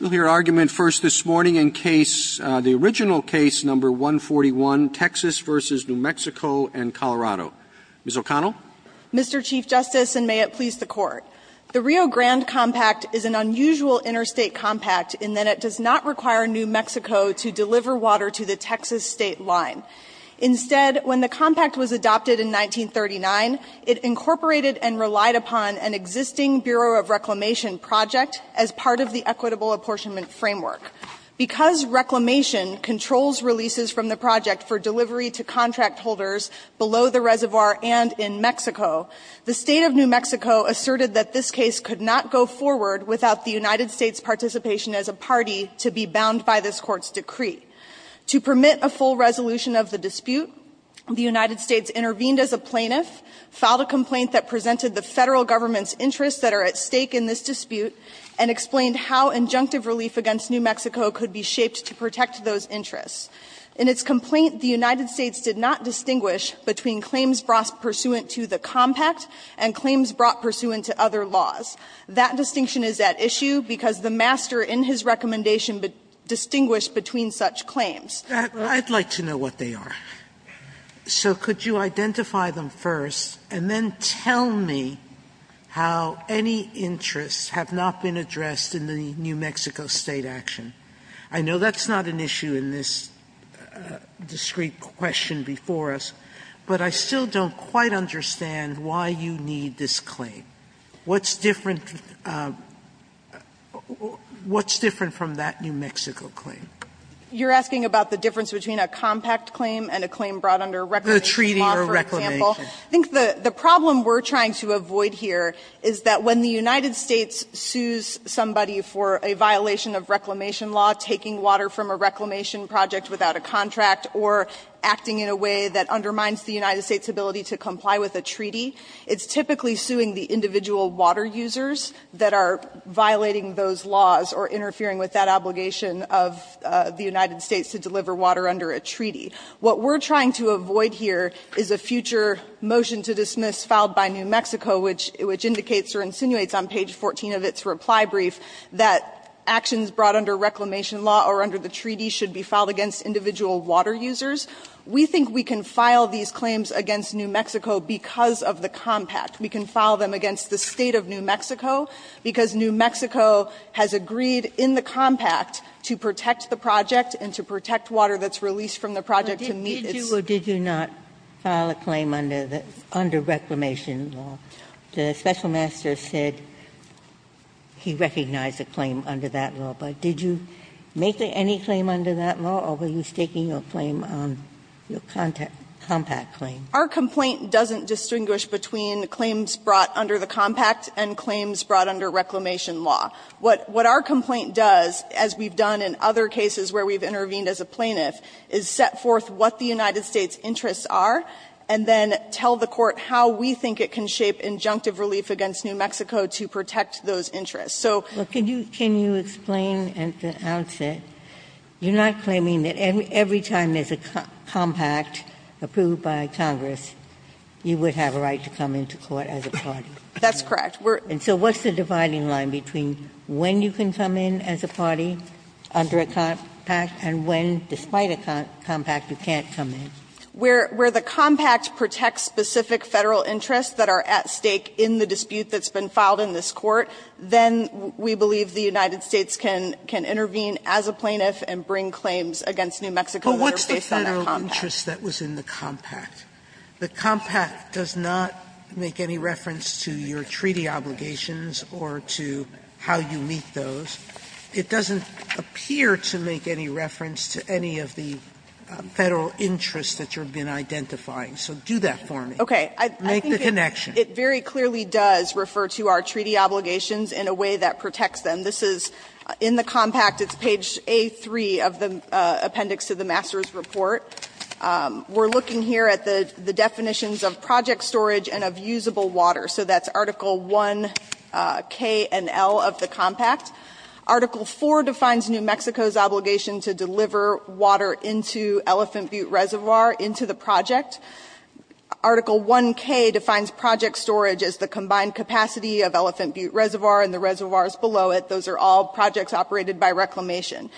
We'll hear argument first this morning in case, the original case, No. 141, Texas v. New Mexico and Colorado. Ms. O'Connell. Mr. Chief Justice, and may it please the Court, the Rio Grande Compact is an unusual interstate compact in that it does not require New Mexico to deliver water to the Texas state line. Instead, when the compact was adopted in 1939, it incorporated and relied upon an existing Bureau of Reclamation project as part of the Equitable Apportionment Framework. Because Reclamation controls releases from the project for delivery to contract holders below the reservoir and in Mexico, the State of New Mexico asserted that this case could not go forward without the United States' participation as a party to be bound by this Court's decree. To permit a full resolution of the dispute, the United States intervened as a plaintiff, filed a complaint that presented the Federal Government's interests that are at stake in this dispute, and explained how injunctive relief against New Mexico could be shaped to protect those interests. In its complaint, the United States did not distinguish between claims brought pursuant to the compact and claims brought pursuant to other laws. That distinction is at issue because the master in his recommendation distinguished between such claims. Sotomayor, I'd like to know what they are. So could you identify them first, and then tell me how any interests have not been addressed in the New Mexico State action? I know that's not an issue in this discrete question before us, but I still don't quite understand why you need this claim. What's different to the new Mexico claim? You're asking about the difference between a compact claim and a claim brought under a reclamation law, for example? The treaty or reclamation. I think the problem we're trying to avoid here is that when the United States sues somebody for a violation of reclamation law, taking water from a reclamation project without a contract, or acting in a way that undermines the United States' ability to comply with a treaty, it's typically suing the individual water users that are violating those laws or interfering with that obligation of the United States to deliver water under a treaty. What we're trying to avoid here is a future motion to dismiss filed by New Mexico, which indicates or insinuates on page 14 of its reply brief that actions brought under reclamation law or under the treaty should be filed against individual water users. We think we can file these claims against New Mexico because of the compact. We can file them against the State of New Mexico because New Mexico has agreed in the compact to protect the project and to protect water that's released from the project to meet its' Sotomayor, did you not file a claim under the under reclamation law? The special master said he recognized a claim under that law. But did you make any claim under that law, or were you staking your claim on your compact claim? Our complaint doesn't distinguish between claims brought under the compact and claims brought under reclamation law. What our complaint does, as we've done in other cases where we've intervened as a plaintiff, is set forth what the United States' interests are, and then tell the Court how we think it can shape injunctive relief against New Mexico to protect those interests. So can you explain at the outset, you're not claiming that every time there's a compact approved by Congress, you would have a right to come into court as a party? That's correct. And so what's the dividing line between when you can come in as a party under a compact and when, despite a compact, you can't come in? Where the compact protects specific Federal interests that are at stake in the dispute that's been filed in this Court, then we believe the United States can intervene as a plaintiff and bring claims against New Mexico that are based on that compact. Sotomayor, but what's the Federal interest that was in the compact? The compact does not make any reference to your treaty obligations or to how you meet those. It doesn't appear to make any reference to any of the Federal interests that you've been identifying. So do that for me. Make the connection. Okay. I think it very clearly does refer to our treaty obligations in a way that protects them. This is in the compact. It's page A3 of the appendix to the master's report. We're looking here at the definitions of project storage and of usable water. So that's Article I, K, and L of the compact. Article IV defines New Mexico's obligation to deliver water into Elephant Butte Reservoir into the project. Article I, K defines project storage as the combined capacity of Elephant Butte Reservoir and the reservoirs below it. Those are all projects operated by reclamation.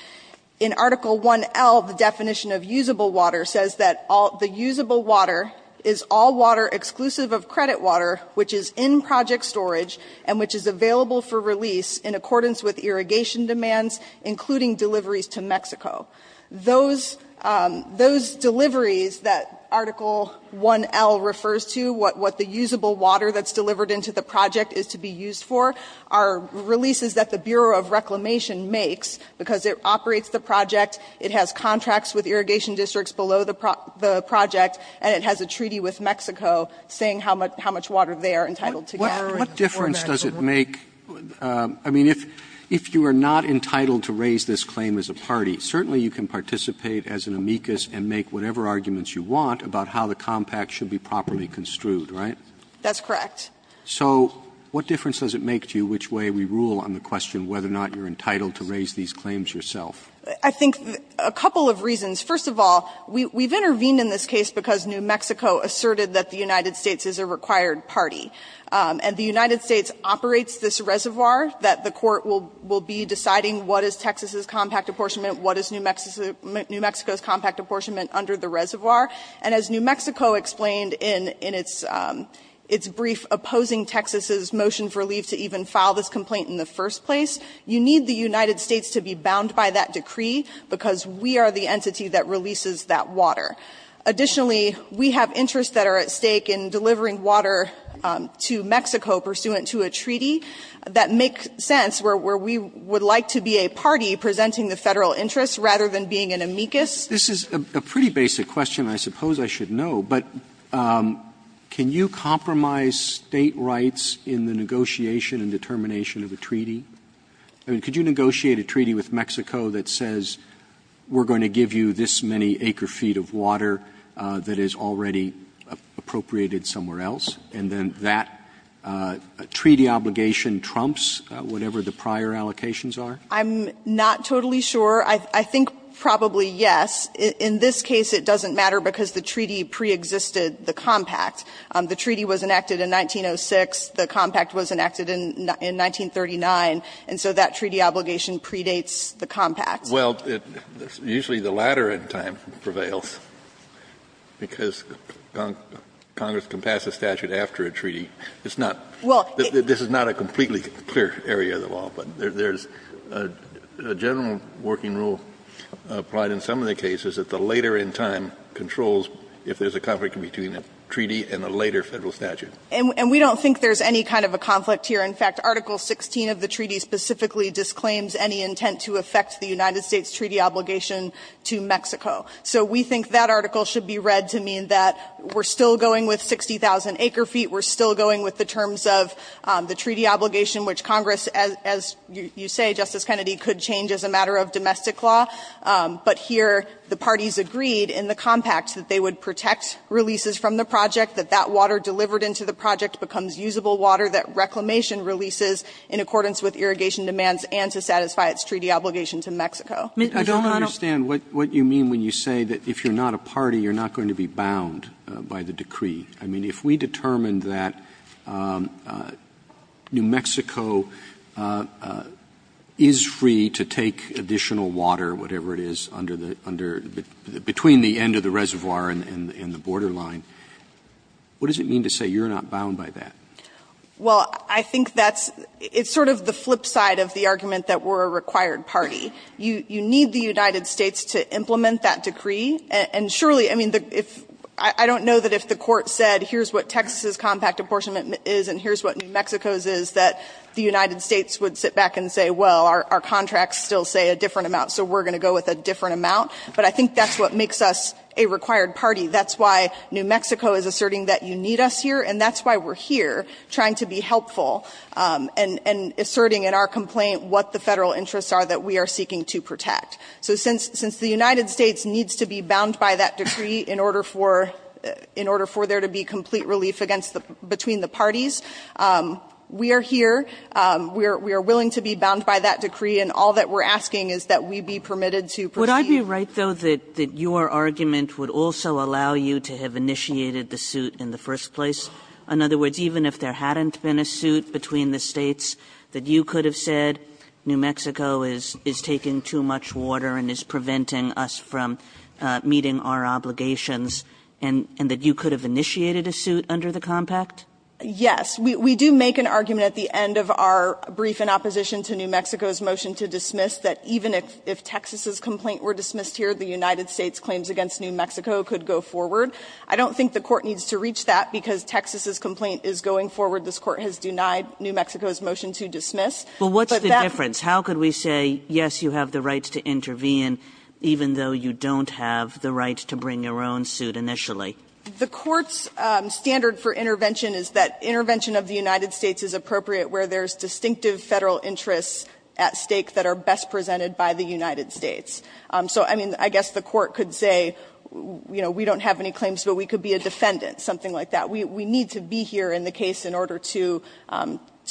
In Article I, L, the definition of usable water says that the usable water is all water exclusive of credit water which is in project storage and which is available for release in accordance with irrigation demands including deliveries to Mexico. Those deliveries that Article I, L, refers to, what the usable water that's delivered into the project is to be used for, are releases that the Bureau of Reclamation makes because it operates the project, it has contracts with irrigation districts below the project, and it has a treaty with Mexico saying how much water they are entitled to get. Roberts, what difference does it make, I mean, if you are not entitled to raise this claim as a party, certainly you can participate as an amicus and make whatever arguments you want about how the compact should be properly construed, right? That's correct. So what difference does it make to you which way we rule on the question whether or not you're entitled to raise these claims yourself? I think a couple of reasons. First of all, we've intervened in this case because New Mexico asserted that the United States operates this reservoir, that the court will be deciding what is Texas's compact apportionment, what is New Mexico's compact apportionment under the reservoir. And as New Mexico explained in its brief opposing Texas's motion for leave to even file this complaint in the first place, you need the United States to be bound by that decree because we are the entity that releases that water. Additionally, we have interests that are at stake in delivering water to Mexico pursuant to a treaty that make sense, where we would like to be a party presenting the Federal interests rather than being an amicus. This is a pretty basic question, I suppose I should know, but can you compromise State rights in the negotiation and determination of a treaty? I mean, could you negotiate a treaty with Mexico that says we're going to give you this many acre-feet of water that is already appropriated somewhere else, and then that treaty obligation trumps whatever the prior allocations are? I'm not totally sure. I think probably yes. In this case, it doesn't matter because the treaty preexisted the compact. The treaty was enacted in 1906. The compact was enacted in 1939. And so that treaty obligation predates the compact. Well, usually the latter in time prevails, because Congress can pass a statute after a treaty. It's not, this is not a completely clear area of the law, but there's a general working rule applied in some of the cases that the later in time controls if there's a conflict between a treaty and a later Federal statute. And we don't think there's any kind of a conflict here. In fact, Article 16 of the treaty specifically disclaims any intent to affect the United States treaty obligation to Mexico. So we think that article should be read to mean that we're still going with 60,000 acre feet, we're still going with the terms of the treaty obligation, which Congress, as you say, Justice Kennedy, could change as a matter of domestic law. But here, the parties agreed in the compact that they would protect releases from the project, that that water delivered into the project becomes usable water, that reclamation releases in accordance with irrigation demands and to satisfy its treaty obligation to Mexico. I don't understand what you mean when you say that if you're not a party, you're not going to be bound by the decree. I mean, if we determined that New Mexico is free to take additional water, whatever it is, under the under the between the end of the reservoir and the borderline, what does it mean to say you're not bound by that? Well, I think that's sort of the flip side of the argument that we're a required party. You need the United States to implement that decree. And surely, I mean, I don't know that if the Court said here's what Texas' compact apportionment is and here's what New Mexico's is, that the United States would sit back and say, well, our contracts still say a different amount, so we're going to go with a different amount. But I think that's what makes us a required party. That's why New Mexico is asserting that you need us here, and that's why we're here trying to be helpful and asserting in our complaint what the Federal interests are that we are seeking to protect. So since the United States needs to be bound by that decree in order for there to be complete relief against the between the parties, we are here, we are willing to be bound by that decree, and all that we're asking is that we be permitted to proceed. Kagan Would I be right, though, that your argument would also allow you to have initiated the suit in the first place? In other words, even if there hadn't been a suit between the States that you could have said, New Mexico is taking too much water and is preventing us from meeting our obligations, and that you could have initiated a suit under the compact? Yes, we do make an argument at the end of our brief in opposition to New Mexico's motion to dismiss that even if Texas's complaint were dismissed here, the United States' claims against New Mexico could go forward. I don't think the Court needs to reach that, because Texas's complaint is going forward. This Court has denied New Mexico's motion to dismiss. But what's the difference? How could we say, yes, you have the right to intervene, even though you don't have the right to bring your own suit initially? The Court's standard for intervention is that intervention of the United States is appropriate where there's distinctive Federal interests at stake that are best presented by the United States. So, I mean, I guess the Court could say, you know, we don't have any claims, but we could be a defendant, something like that. We need to be here in the case in order to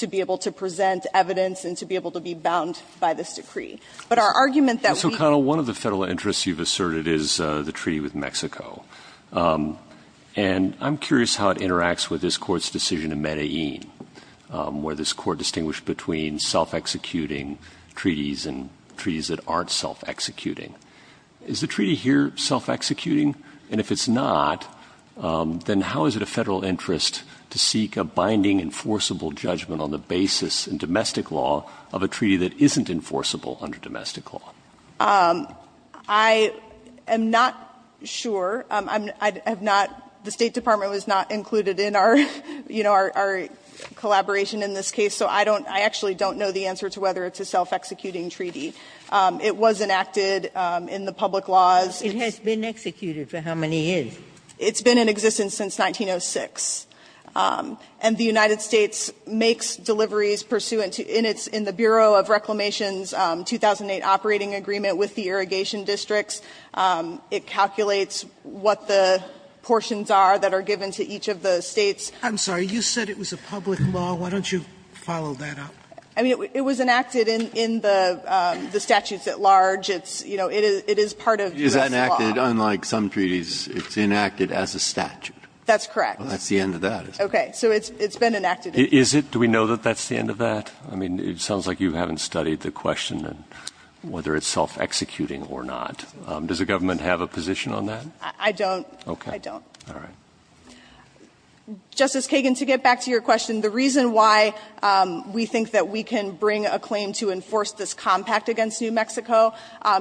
be able to present evidence and to be able to be bound by this decree. But our argument that we – So, Connell, one of the Federal interests you've asserted is the treaty with Mexico. And I'm curious how it interacts with this Court's decision in Medellin, where this Court distinguished between self-executing treaties and treaties that aren't self-executing. Is the treaty here self-executing? And if it's not, then how is it a Federal interest to seek a binding enforceable judgment on the basis in domestic law of a treaty that isn't enforceable under domestic law? I am not sure. I have not – the State Department was not included in our, you know, our collaboration in this case, so I don't – I actually don't know the answer to whether it's a self-executing treaty. It was enacted in the public laws. It has been executed for how many years? It's been in existence since 1906. And the United States makes deliveries pursuant to – in its – in the Bureau of Reclamation's 2008 operating agreement with the irrigation districts. It calculates what the portions are that are given to each of the States. I'm sorry. You said it was a public law. Why don't you follow that up? I mean, it was enacted in the statutes at large. It's, you know, it is part of the United States. It is enacted, unlike some treaties, it's enacted as a statute. That's correct. Well, that's the end of that, isn't it? Okay. So it's been enacted in the courts. Is it? Do we know that that's the end of that? I mean, it sounds like you haven't studied the question of whether it's self-executing or not. Does the government have a position on that? I don't. Okay. I don't. All right. Justice Kagan, to get back to your question, the reason why we think that we can bring a claim to enforce this compact against New Mexico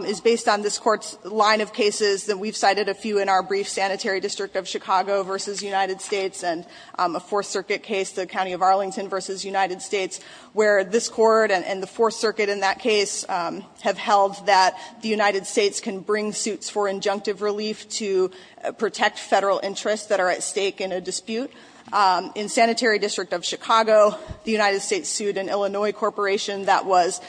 is based on this Court's line of cases that we've cited a few in our brief sanitary district of Chicago versus United States, and a Fourth Circuit case, the County of Arlington versus United States, where this Court and the Fourth Circuit in that case have held that the United States can bring suits for injunctive relief to protect federal interests that are at stake in a dispute. In sanitary district of Chicago, the United States sued an Illinois corporation that was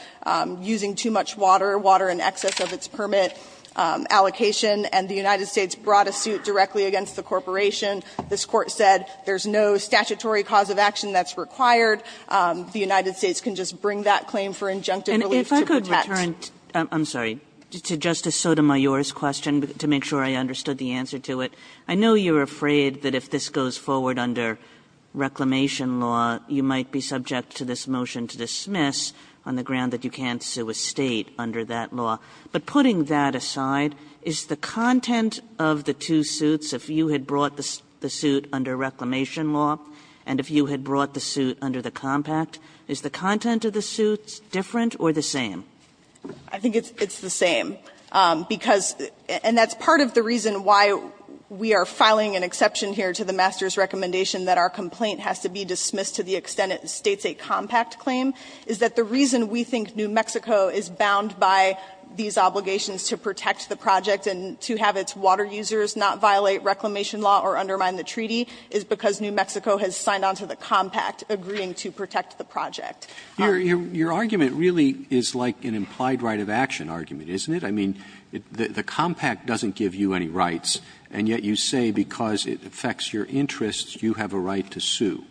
using too much water, water in excess of its permit allocation, and the United States brought a suit directly against the corporation. This Court said there's no statutory cause of action that's required. The United States can just bring that claim for injunctive relief to protect. And if I could return to Justice Sotomayor's question to make sure I understood the answer to it. I know you're afraid that if this goes forward under Reclamation law, you might be subject to this motion to dismiss on the ground that you can't sue a State under that law. But putting that aside, is the content of the two suits, if you had brought the suit under Reclamation law and if you had brought the suit under the compact, is the content of the suits different or the same? I think it's the same, because and that's part of the reason why we are filing an exception here to the master's recommendation that our complaint has to be dismissed to the extent it states a compact claim, is that the reason we think New Mexico is bound by these obligations to protect the project and to have its water users not violate Reclamation law or undermine the treaty is because New Mexico has signed on to the compact agreeing to protect the project. Roberts Your argument really is like an implied right of action argument, isn't it? I mean, the compact doesn't give you any rights, and yet you say because it affects your interests, you have a right to sue.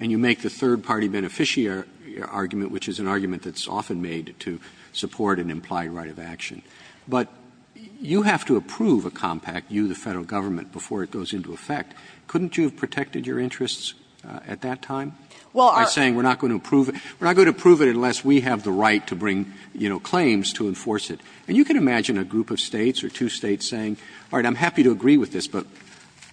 And you make the third-party beneficiary argument, which is an argument that's often made to support an implied right of action. But you have to approve a compact, you, the Federal Government, before it goes into effect. Couldn't you have protected your interests at that time? By saying we're not going to approve it, we're not going to approve it unless we have the right to bring, you know, claims to enforce it. And you can imagine a group of States or two States saying, all right, I'm happy to agree with this, but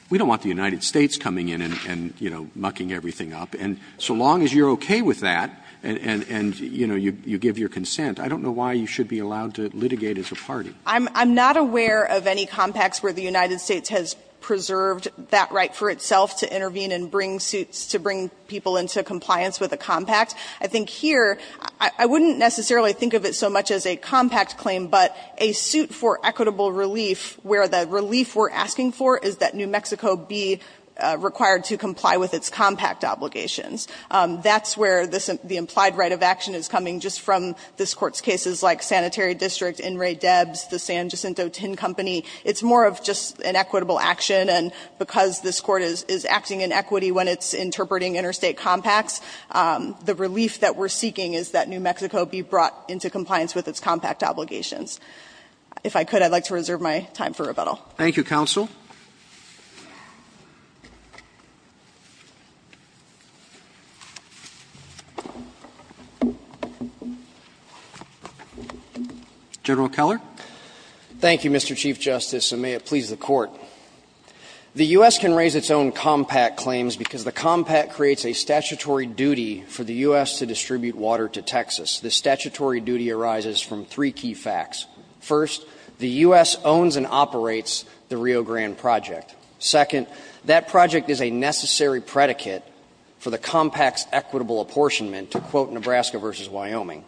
we don't want the United States coming in and, you know, mucking everything up. And so long as you're okay with that and, you know, you give your consent, I don't know why you should be allowed to litigate as a party. I'm not aware of any compacts where the United States has preserved that right for itself to intervene and bring suits to bring people into compliance with a compact. I think here, I wouldn't necessarily think of it so much as a compact claim, but a suit for equitable relief where the relief we're asking for is that New Mexico be required to comply with its compact obligations. That's where the implied right of action is coming just from this Court's cases like Sanitary District, In Re Debs, the San Jacinto Tin Company. It's more of just an equitable action, and because this Court is acting in equity when it's interpreting interstate compacts, the relief that we're seeking is that New Mexico be brought into compliance with its compact obligations. If I could, I'd like to reserve my time for rebuttal. Roberts. Thank you, counsel. General Keller. Thank you, Mr. Chief Justice, and may it please the Court. The U.S. can raise its own compact claims because the compact creates a statutory duty for the U.S. to distribute water to Texas. The statutory duty arises from three key facts. First, the U.S. owns and operates the Rio Grande project. Second, that project is a necessary predicate for the compact's equitable apportionment, to quote Nebraska v. Wyoming.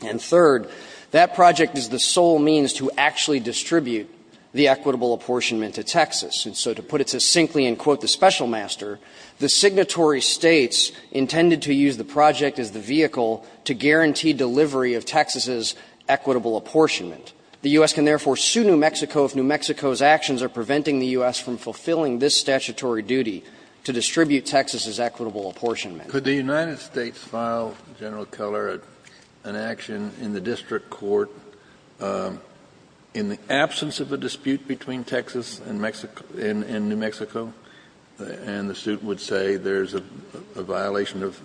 And third, that project is the sole means to actually distribute the equitable apportionment to Texas. And so to put it succinctly and quote the Special Master, the signatory States intended to use the project as the vehicle to guarantee delivery of Texas's equitable apportionment. The U.S. can therefore sue New Mexico if New Mexico's actions are preventing the U.S. from fulfilling this statutory duty to distribute Texas's equitable apportionment. Kennedy, could the United States file General Keller an action in the district court in the absence of a dispute between Texas and New Mexico, and the suit would say there's a violation of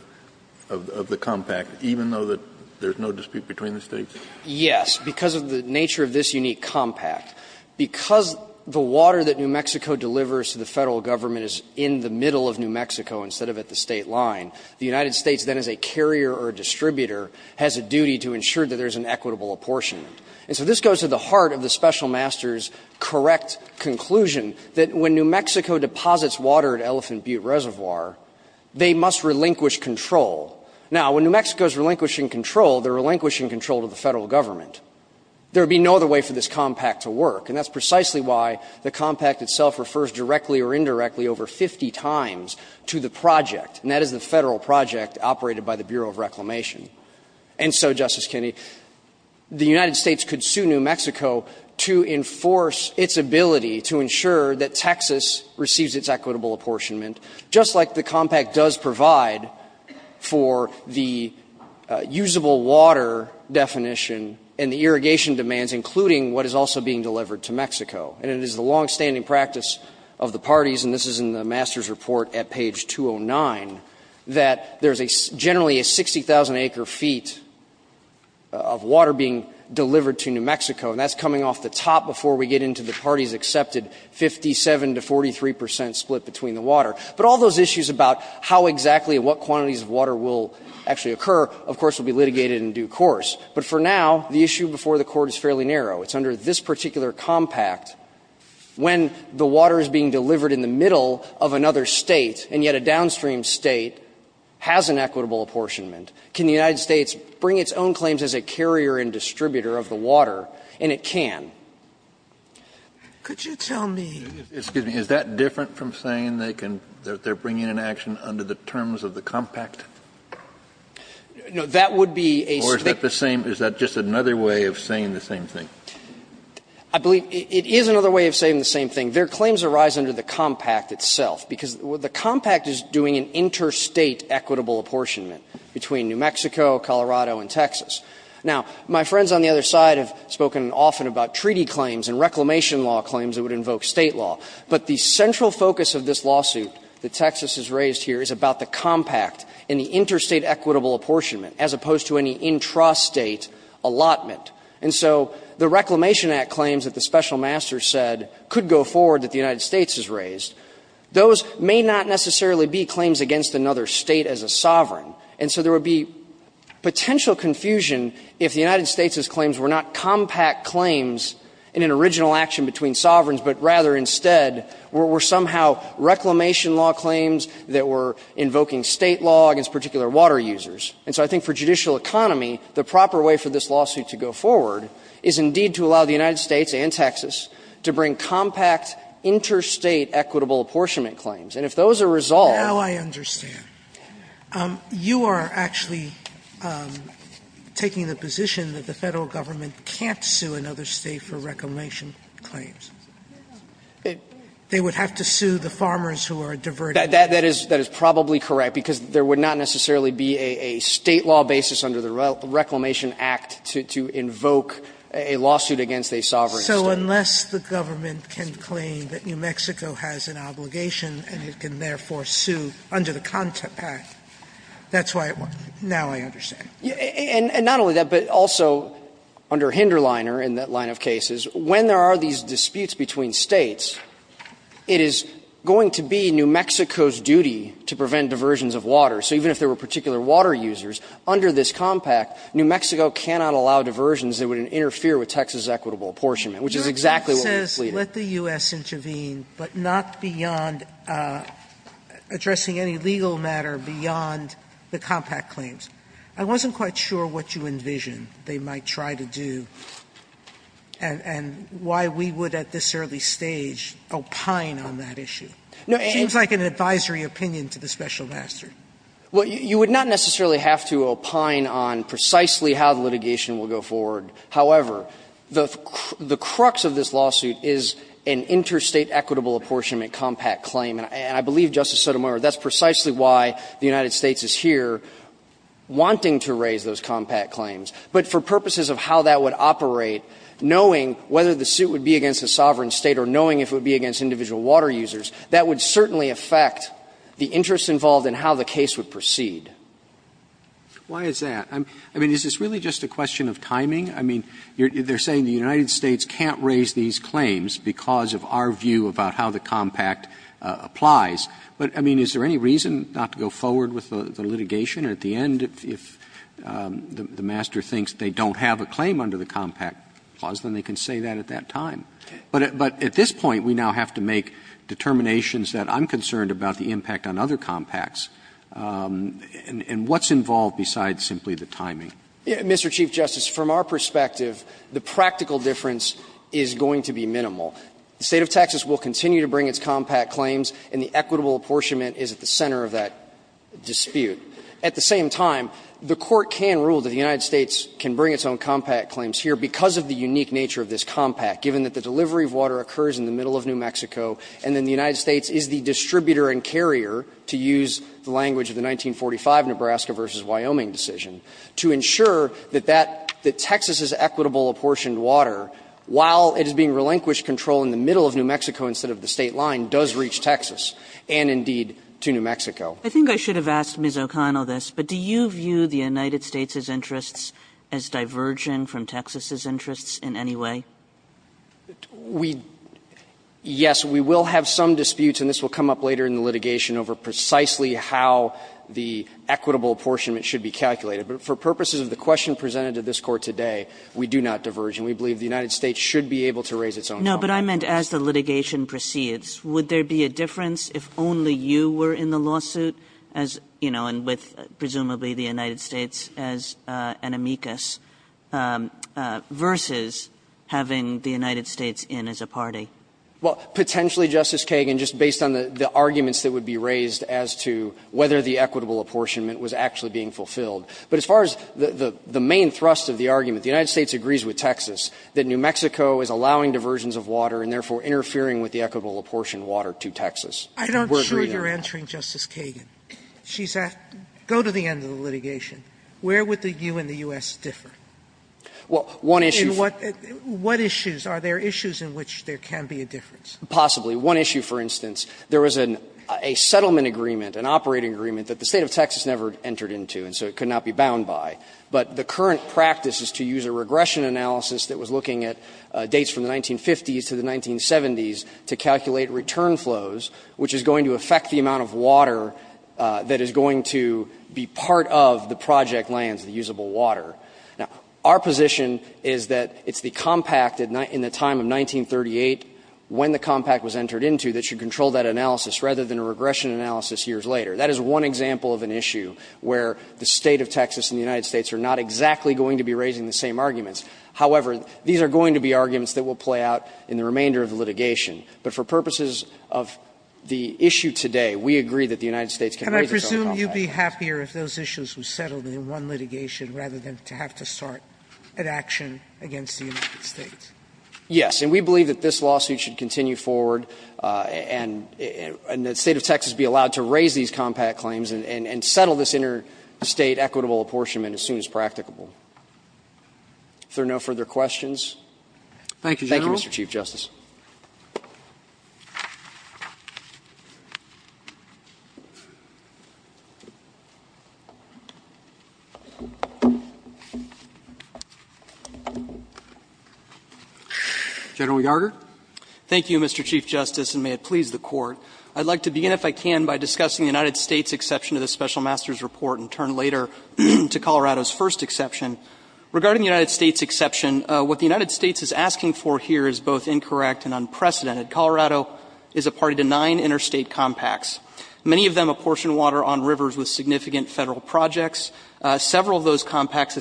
the compact, even though there's no dispute between the States? Yes, because of the nature of this unique compact. Because the water that New Mexico delivers to the Federal Government is in the middle of New Mexico instead of at the State line, the United States then as a carrier or distributor has a duty to ensure that there's an equitable apportionment. And so this goes to the heart of the Special Master's correct conclusion that when New Mexico deposits water at Elephant Butte Reservoir, they must relinquish control. Now, when New Mexico's relinquishing control, they're relinquishing control to the Federal Government. There would be no other way for this compact to work, and that's precisely why the And so, Justice Kennedy, the United States could sue New Mexico to enforce its ability to ensure that Texas receives its equitable apportionment, just like the compact does provide for the usable water definition and the irrigation demands, including what is also being delivered to Mexico. And it is the longstanding practice of the parties, and this is in the master's report at page 209, that there's generally a 60,000-acre feet of water being delivered to New Mexico, and that's coming off the top before we get into the parties' accepted 57 to 43 percent split between the water. But all those issues about how exactly and what quantities of water will actually occur, of course, will be litigated in due course. But for now, the issue before the Court is fairly narrow. It's under this particular compact, when the water is being delivered in the middle of another State, and yet a downstream State has an equitable apportionment, can the United States bring its own claims as a carrier and distributor of the water, and it can. Sotomayor, is that different from saying they can they're bringing an action under the terms of the compact? No, that would be a split. Or is that the same, is that just another way of saying the same thing? I believe it is another way of saying the same thing. Their claims arise under the compact itself, because the compact is doing an interstate equitable apportionment between New Mexico, Colorado, and Texas. Now, my friends on the other side have spoken often about treaty claims and reclamation law claims that would invoke State law, but the central focus of this lawsuit that Texas has raised here is about the compact and the interstate equitable apportionment, as opposed to any intrastate allotment. And so the Reclamation Act claims that the special master said could go forward that the United States has raised, those may not necessarily be claims against another State as a sovereign. And so there would be potential confusion if the United States' claims were not compact claims in an original action between sovereigns, but rather instead were somehow reclamation law claims that were invoking State law against particular water users. And so I think for judicial economy, the proper way for this lawsuit to go forward is indeed to allow the United States and Texas to bring compact interstate equitable apportionment claims. who are diverting. Sotomayor, you are actually taking the position that the Federal Government can't sue another State for reclamation claims. They would have to sue the farmers who are diverting. That is probably correct, because there would not necessarily be a State law basis under the Reclamation Act to invoke a lawsuit against a sovereign State. So unless the government can claim that New Mexico has an obligation and it can therefore sue under the Compact, that's why it won't. Now I understand. And not only that, but also under Hinderliner in that line of cases, when there are these disputes between States, it is going to be New Mexico's duty to prevent diversions of water. So even if there were particular water users, under this Compact, New Mexico cannot allow diversions that would interfere with Texas equitable apportionment, which is exactly what we're pleading. Sotomayor, let the U.S. intervene, but not beyond addressing any legal matter beyond the Compact claims. I wasn't quite sure what you envisioned they might try to do and why we would at this early stage opine on that issue. It seems like an advisory opinion to the special master. Well, you would not necessarily have to opine on precisely how the litigation will go forward. However, the crux of this lawsuit is an interstate equitable apportionment Compact claim. And I believe, Justice Sotomayor, that's precisely why the United States is here wanting to raise those Compact claims. But for purposes of how that would operate, knowing whether the suit would be against a sovereign State or knowing if it would be against individual water users, that would certainly affect the interest involved in how the case would proceed. Why is that? I mean, is this really just a question of timing? I mean, they're saying the United States can't raise these claims because of our view about how the Compact applies. But, I mean, is there any reason not to go forward with the litigation? At the end, if the master thinks they don't have a claim under the Compact clause, then they can say that at that time. But at this point, we now have to make determinations that I'm concerned about the impact on other Compacts. And what's involved besides simply the timing? Mr. Chief Justice, from our perspective, the practical difference is going to be minimal. The State of Texas will continue to bring its Compact claims, and the equitable apportionment is at the center of that dispute. At the same time, the Court can rule that the United States can bring its own Compact claims here because of the unique nature of this Compact, given that the delivery of water occurs in the middle of New Mexico, and then the United States is the distributor and carrier, to use the language of the 1945 Nebraska v. Wyoming decision, to ensure that that, that Texas's equitable apportioned water, while it is being relinquished control in the middle of New Mexico instead of the State line, does reach Texas and, indeed, to New Mexico. Kagan. Kagan. I think I should have asked Ms. O'Connell this, but do you view the United States' interests as diverging from Texas's interests in any way? We – yes, we will have some disputes, and this will come up later in the litigation, over precisely how the equitable apportionment should be calculated. But for purposes of the question presented to this Court today, we do not diverge, and we believe the United States should be able to raise its own. No, but I meant as the litigation proceeds. Would there be a difference if only you were in the lawsuit as, you know, and with, presumably, the United States as an amicus, versus having the United States in as a party? Well, potentially, Justice Kagan, just based on the arguments that would be raised as to whether the equitable apportionment was actually being fulfilled. But as far as the main thrust of the argument, the United States agrees with Texas that New Mexico is allowing diversions of water and, therefore, interfering with the equitable apportionment of water to Texas. We're agreeing on that. I'm not sure you're answering, Justice Kagan. She's asked, go to the end of the litigation. Where would the U.S. and the U.S. differ? Well, one issue for you. What issues? Are there issues in which there can be a difference? Possibly. One issue, for instance, there was a settlement agreement, an operating agreement, that the State of Texas never entered into, and so it could not be bound by. But the current practice is to use a regression analysis that was looking at dates from the 1950s to the 1970s to calculate return flows, which is going to affect the amount of water that is going to be part of the project lands, the usable water. Now, our position is that it's the compact in the time of 1938, when the compact was entered into, that should control that analysis, rather than a regression analysis years later. That is one example of an issue where the State of Texas and the United States are not exactly going to be raising the same arguments. However, these are going to be arguments that will play out in the remainder of the litigation. But for purposes of the issue today, we agree that the United States can raise its own compact. Sotomayor, can I presume you'd be happier if those issues were settled in one litigation rather than to have to start an action against the United States? And we believe that this lawsuit should continue forward and that the State of Texas be allowed to raise these compact claims and settle this interstate equitable apportionment as soon as practicable. If there are no further questions. Thank you, Mr. Chief Justice. General Yarder. Thank you, Mr. Chief Justice, and may it please the Court. I'd like to begin, if I can, by discussing the United States' exception to the Special Master's Report and turn later to Colorado's first exception. Regarding the United States' exception, what the United States is asking for here is both incorrect and unprecedented. Colorado is a party to nine interstate compacts, many of them apportioned water on rivers with significant Federal projects. Several of those compacts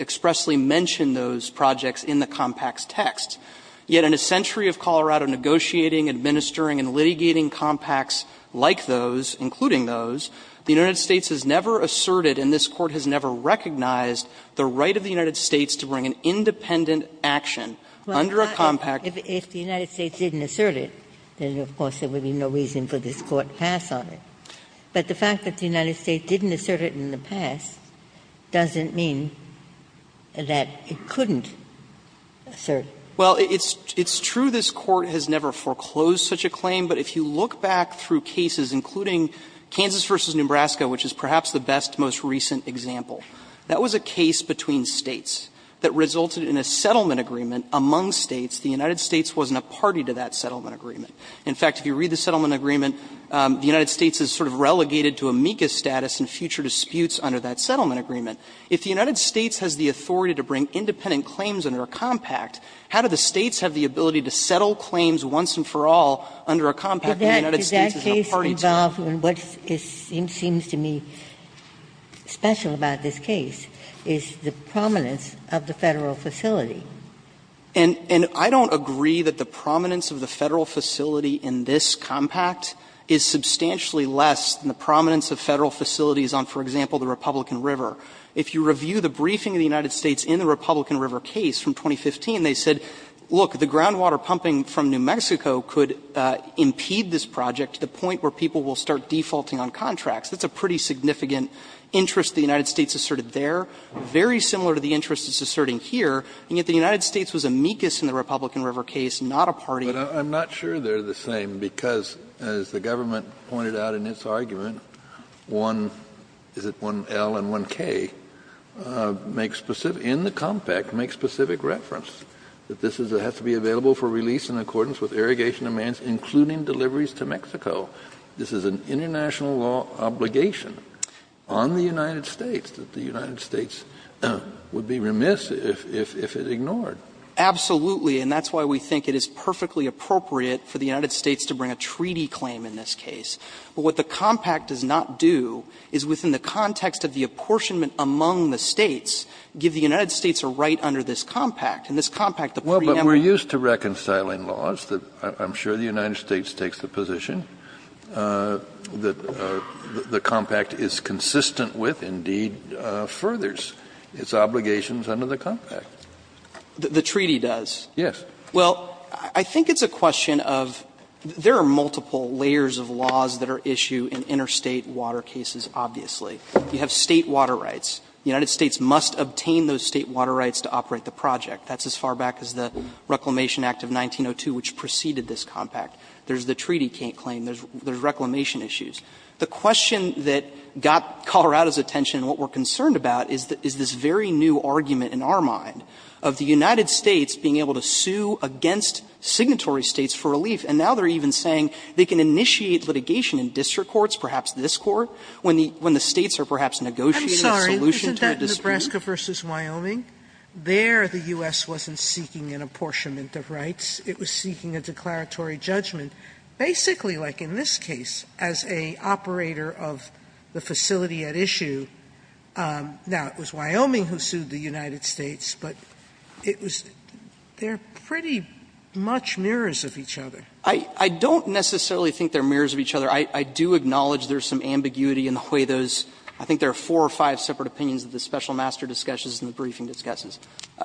expressly mention those projects in the compact's text. Yet in a century of Colorado negotiating, administering, and litigating compacts like those, including those, the United States has never asserted and this Court has never recognized the right of the United States to bring an independent action under a compact. If the United States didn't assert it, then of course there would be no reason for this Court to pass on it. But the fact that the United States didn't assert it in the past doesn't mean that it couldn't assert. Well, it's true this Court has never foreclosed such a claim, but if you look back through cases, including Kansas v. Nebraska, which is perhaps the best, most recent example, that was a case between States that resulted in a settlement agreement among States. The United States wasn't a party to that settlement agreement. In fact, if you read the settlement agreement, the United States is sort of relegated to amicus status in future disputes under that settlement agreement. If the United States has the authority to bring independent claims under a compact, how do the States have the ability to settle claims once and for all under a compact that the United States is a party to? Ginsburg. Is that case involved in what seems to me special about this case is the prominence of the Federal facility. And I don't agree that the prominence of the Federal facility in this compact is substantially less than the prominence of Federal facilities on, for example, the Republican River. If you review the briefing of the United States in the Republican River case from 2015, they said, look, the groundwater pumping from New Mexico could impede this project to the point where people will start defaulting on contracts. That's a pretty significant interest the United States asserted there, very similar to the interest it's asserting here, and yet the United States was amicus in the Republican River case, not a party. Kennedy. But I'm not sure they're the same, because as the government pointed out in its argument, one, is it 1L and 1K, make specific, in the compact, make specific reference that this has to be available for release in accordance with irrigation demands, including deliveries to Mexico. This is an international law obligation on the United States that the United States would be remiss if it ignored. Absolutely, and that's why we think it is perfectly appropriate for the United States to bring a treaty claim in this case. But what the compact does not do is, within the context of the apportionment among the States, give the United States a right under this compact. And this compact, the preamble of the United States is consistent with, indeed, furthers its obligations under the compact. The treaty does? Yes. Well, I think it's a question of, there are multiple layers of laws that are issued in interstate water cases, obviously. You have State water rights. The United States must obtain those State water rights to operate the project. That's as far back as the Reclamation Act of 1902, which preceded this compact. There's the treaty claim. There's Reclamation issues. The question that got Colorado's attention and what we're concerned about is this very new argument, in our mind, of the United States being able to sue against signatory States for relief. And now they're even saying they can initiate litigation in district courts, perhaps this Court, when the States are perhaps negotiating a solution to a dispute. Sotomayor, isn't that Nebraska v. Wyoming? There the U.S. wasn't seeking an apportionment of rights. It was seeking a declaratory judgment. Basically, like in this case, as an operator of the facility at issue, now, it was Wyoming who sued the United States, but it was they're pretty much mirrors of each other. I don't necessarily think they're mirrors of each other. I do acknowledge there's some ambiguity in the way those, I think there are four or five separate opinions that the special master discusses and the briefing discusses.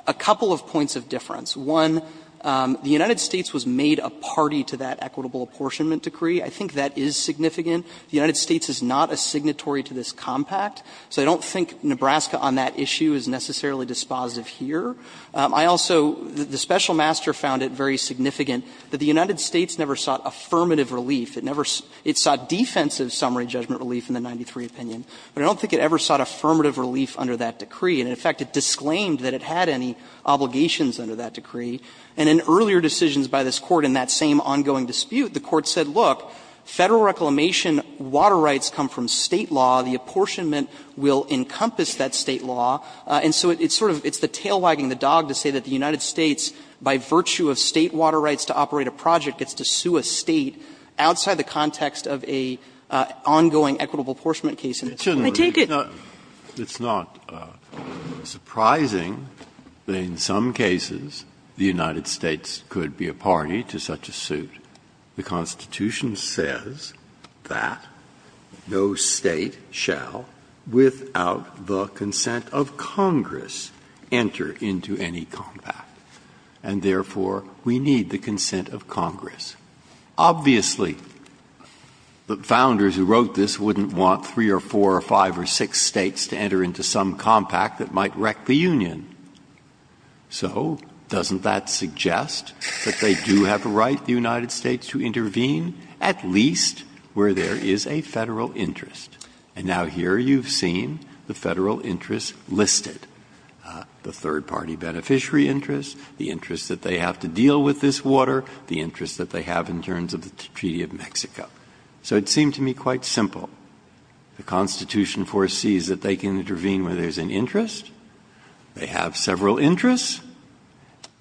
A couple of points of difference. One, the United States was made a party to that equitable apportionment decree. I think that is significant. The United States is not a signatory to this compact. So I don't think Nebraska on that issue is necessarily dispositive here. I also, the special master found it very significant that the United States never sought affirmative relief. It never, it sought defensive summary judgment relief in the 93 opinion, but I don't think it ever sought affirmative relief under that decree. And in fact, it disclaimed that it had any obligations under that decree. And in earlier decisions by this Court in that same ongoing dispute, the Court said, look, Federal reclamation water rights come from State law. The apportionment will encompass that State law. And so it's sort of, it's the tail wagging the dog to say that the United States, by virtue of State water rights to operate a project, gets to sue a State outside the context of an ongoing equitable apportionment case. Breyer, I take it. Breyer, it's not surprising that in some cases the United States could be a party to such a suit. The Constitution says that no State shall, without the consent of Congress, enter into any compact, and therefore, we need the consent of Congress. Obviously, the founders who wrote this wouldn't want three or four or five or six States to enter into some compact that might wreck the union. So doesn't that suggest that they do have a right, the United States, to intervene at least where there is a Federal interest? And now here you've seen the Federal interests listed, the third-party beneficiary interests, the interests that they have to deal with this water, the interests that they have in terms of the Treaty of Mexico. So it seemed to me quite simple. The Constitution foresees that they can intervene where there's an interest. They have several interests.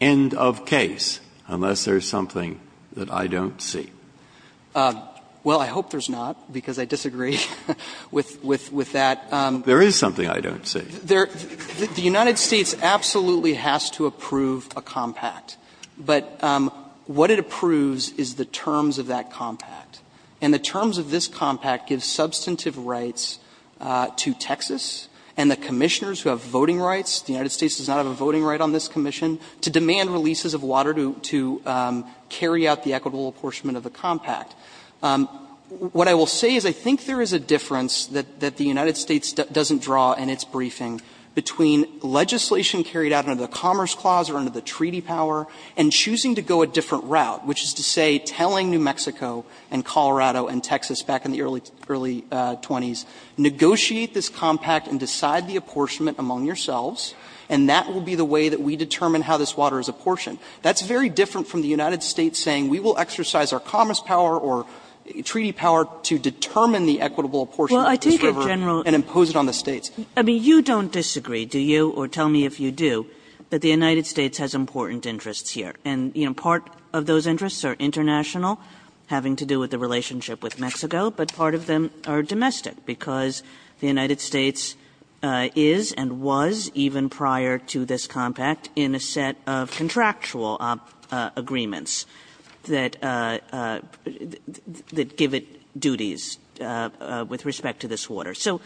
End of case, unless there's something that I don't see. Well, I hope there's not, because I disagree with that. There is something I don't see. The United States absolutely has to approve a compact. But what it approves is the terms of that compact, and the terms of this compact give substantive rights to Texas and the Commissioners who have voting rights the United States does not have a voting right on this Commission to demand releases of water to carry out the equitable apportionment of the compact. What I will say is I think there is a difference that the United States doesn't draw in its briefing between legislation carried out under the Commerce Clause or under the Treaty power and choosing to go a different route, which is to say telling New Mexico and Colorado and Texas back in the early, early 20s, negotiate this compact and decide the apportionment among yourselves, and that will be the way that we determine how this water is apportioned. That's very different from the United States saying we will exercise our commerce power or treaty power to determine the equitable apportionment of this river and impose it on the States. Kagan. Kagan. I mean, you don't disagree, do you, or tell me if you do, that the United States has important interests here. And, you know, part of those interests are international, having to do with the relationship with Mexico, but part of them are domestic, because the United States is and was, even prior to this compact, in a set of contractual agreements that give it duties with respect to this water. So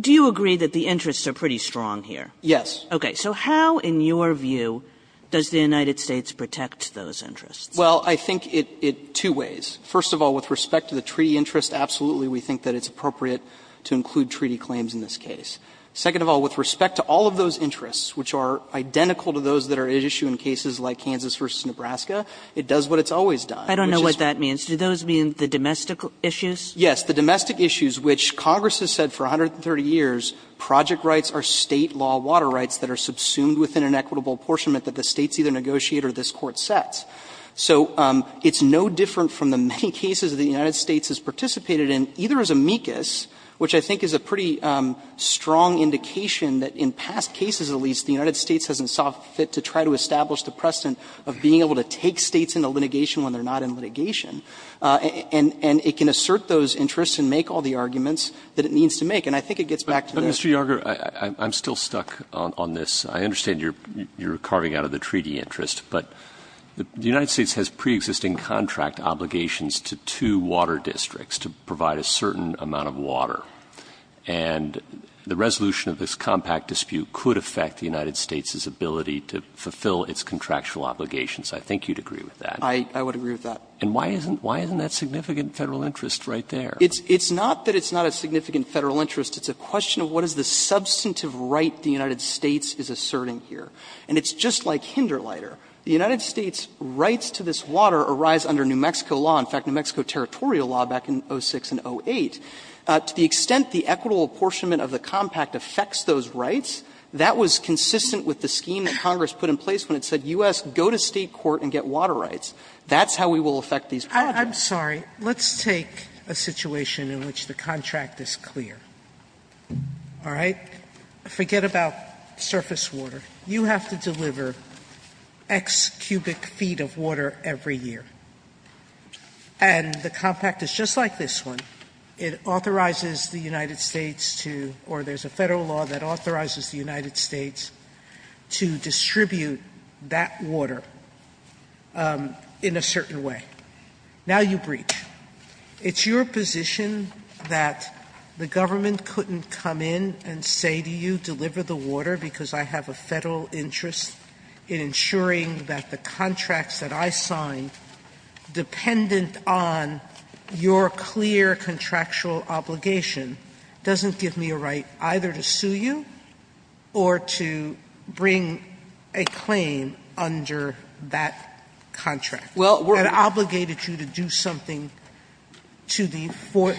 do you agree that the interests are pretty strong here? Yes. Okay. So how, in your view, does the United States protect those interests? Well, I think it two ways. First of all, with respect to the treaty interest, absolutely we think that it's appropriate to include treaty claims in this case. Second of all, with respect to all of those interests, which are identical to those that are at issue in cases like Kansas v. Nebraska, it does what it's always done. I don't know what that means. Do those mean the domestic issues? Yes. The domestic issues, which Congress has said for 130 years project rights are State law water rights that are subsumed within an equitable apportionment that the States either negotiate or this Court sets. So it's no different from the many cases that the United States has participated in, either as amicus, which I think is a pretty strong indication that in past cases at least the United States hasn't saw fit to try to establish the precedent of being able to take States into litigation when they're not in litigation, and it can assert those interests and make all the arguments that it needs to make. And I think it gets back to the other question. I'm stuck on this. I understand you're carving out of the treaty interest, but the United States has preexisting contract obligations to two water districts to provide a certain amount of water. And the resolution of this compact dispute could affect the United States' ability to fulfill its contractual obligations. I think you'd agree with that. I would agree with that. And why isn't that significant Federal interest right there? It's not that it's not a significant Federal interest. It's a question of what is the substantive right the United States is asserting here. And it's just like Hinderliter. The United States' rights to this water arise under New Mexico law, in fact, New Mexico territorial law back in 06 and 08. To the extent the equitable apportionment of the compact affects those rights, that was consistent with the scheme that Congress put in place when it said U.S. go to State court and get water rights. That's how we will affect these projects. Sotomayor, I'm sorry. Let's take a situation in which the contract is clear. All right? Forget about surface water. You have to deliver X cubic feet of water every year. And the compact is just like this one. It authorizes the United States to, or there's a Federal law that authorizes the United States to distribute that water in a certain way. Now you breach. It's your position that the government couldn't come in and say to you, deliver the water because I have a Federal interest in ensuring that the contracts that I signed dependent on your clear contractual obligation, doesn't give me a right either to sue you or to bring a claim under that contract. Well, we're obligated you to do something to the, for,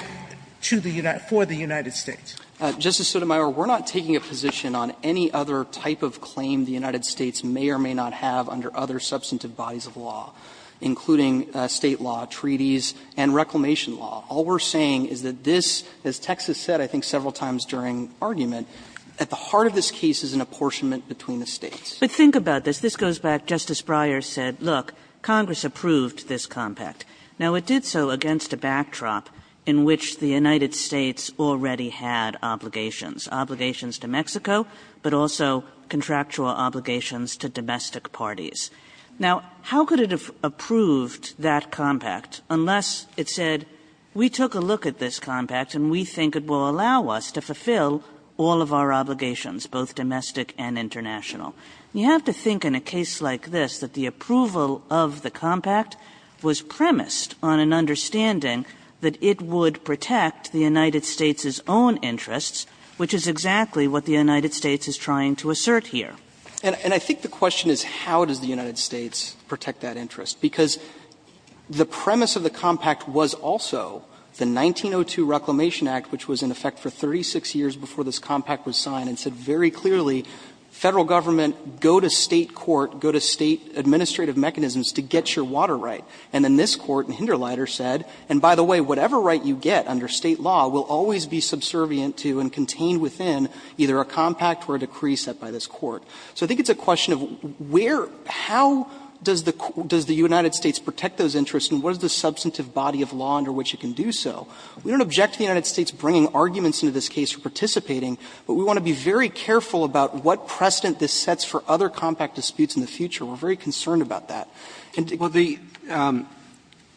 to the United, for the United States. Justice Sotomayor, we're not taking a position on any other type of claim the United States may or may not have under other substantive bodies of law, including State law, treaties, and reclamation law. All we're saying is that this, as Texas said, I think several times during argument, at the heart of this case is an apportionment between the States. But think about this. If this goes back, Justice Breyer said, look, Congress approved this compact. Now, it did so against a backdrop in which the United States already had obligations, obligations to Mexico, but also contractual obligations to domestic parties. Now, how could it have approved that compact unless it said, we took a look at this compact and we think it will allow us to fulfill all of our obligations, both domestic and international. You have to think in a case like this that the approval of the compact was premised on an understanding that it would protect the United States' own interests, which is exactly what the United States is trying to assert here. And I think the question is, how does the United States protect that interest? Because the premise of the compact was also the 1902 Reclamation Act, which was in effect for 36 years before this compact was signed, and said very clearly, Federal Government, go to State court, go to State administrative mechanisms to get your water right. And then this Court in Hinderlieter said, and by the way, whatever right you get under State law will always be subservient to and contained within either a compact or a decree set by this Court. So I think it's a question of where, how does the United States protect those interests and what is the substantive body of law under which it can do so? We don't object to the United States bringing arguments into this case for participating, but we want to be very careful about what precedent this sets for other compact disputes in the future. We're very concerned about that. And to go to the other. Roberts,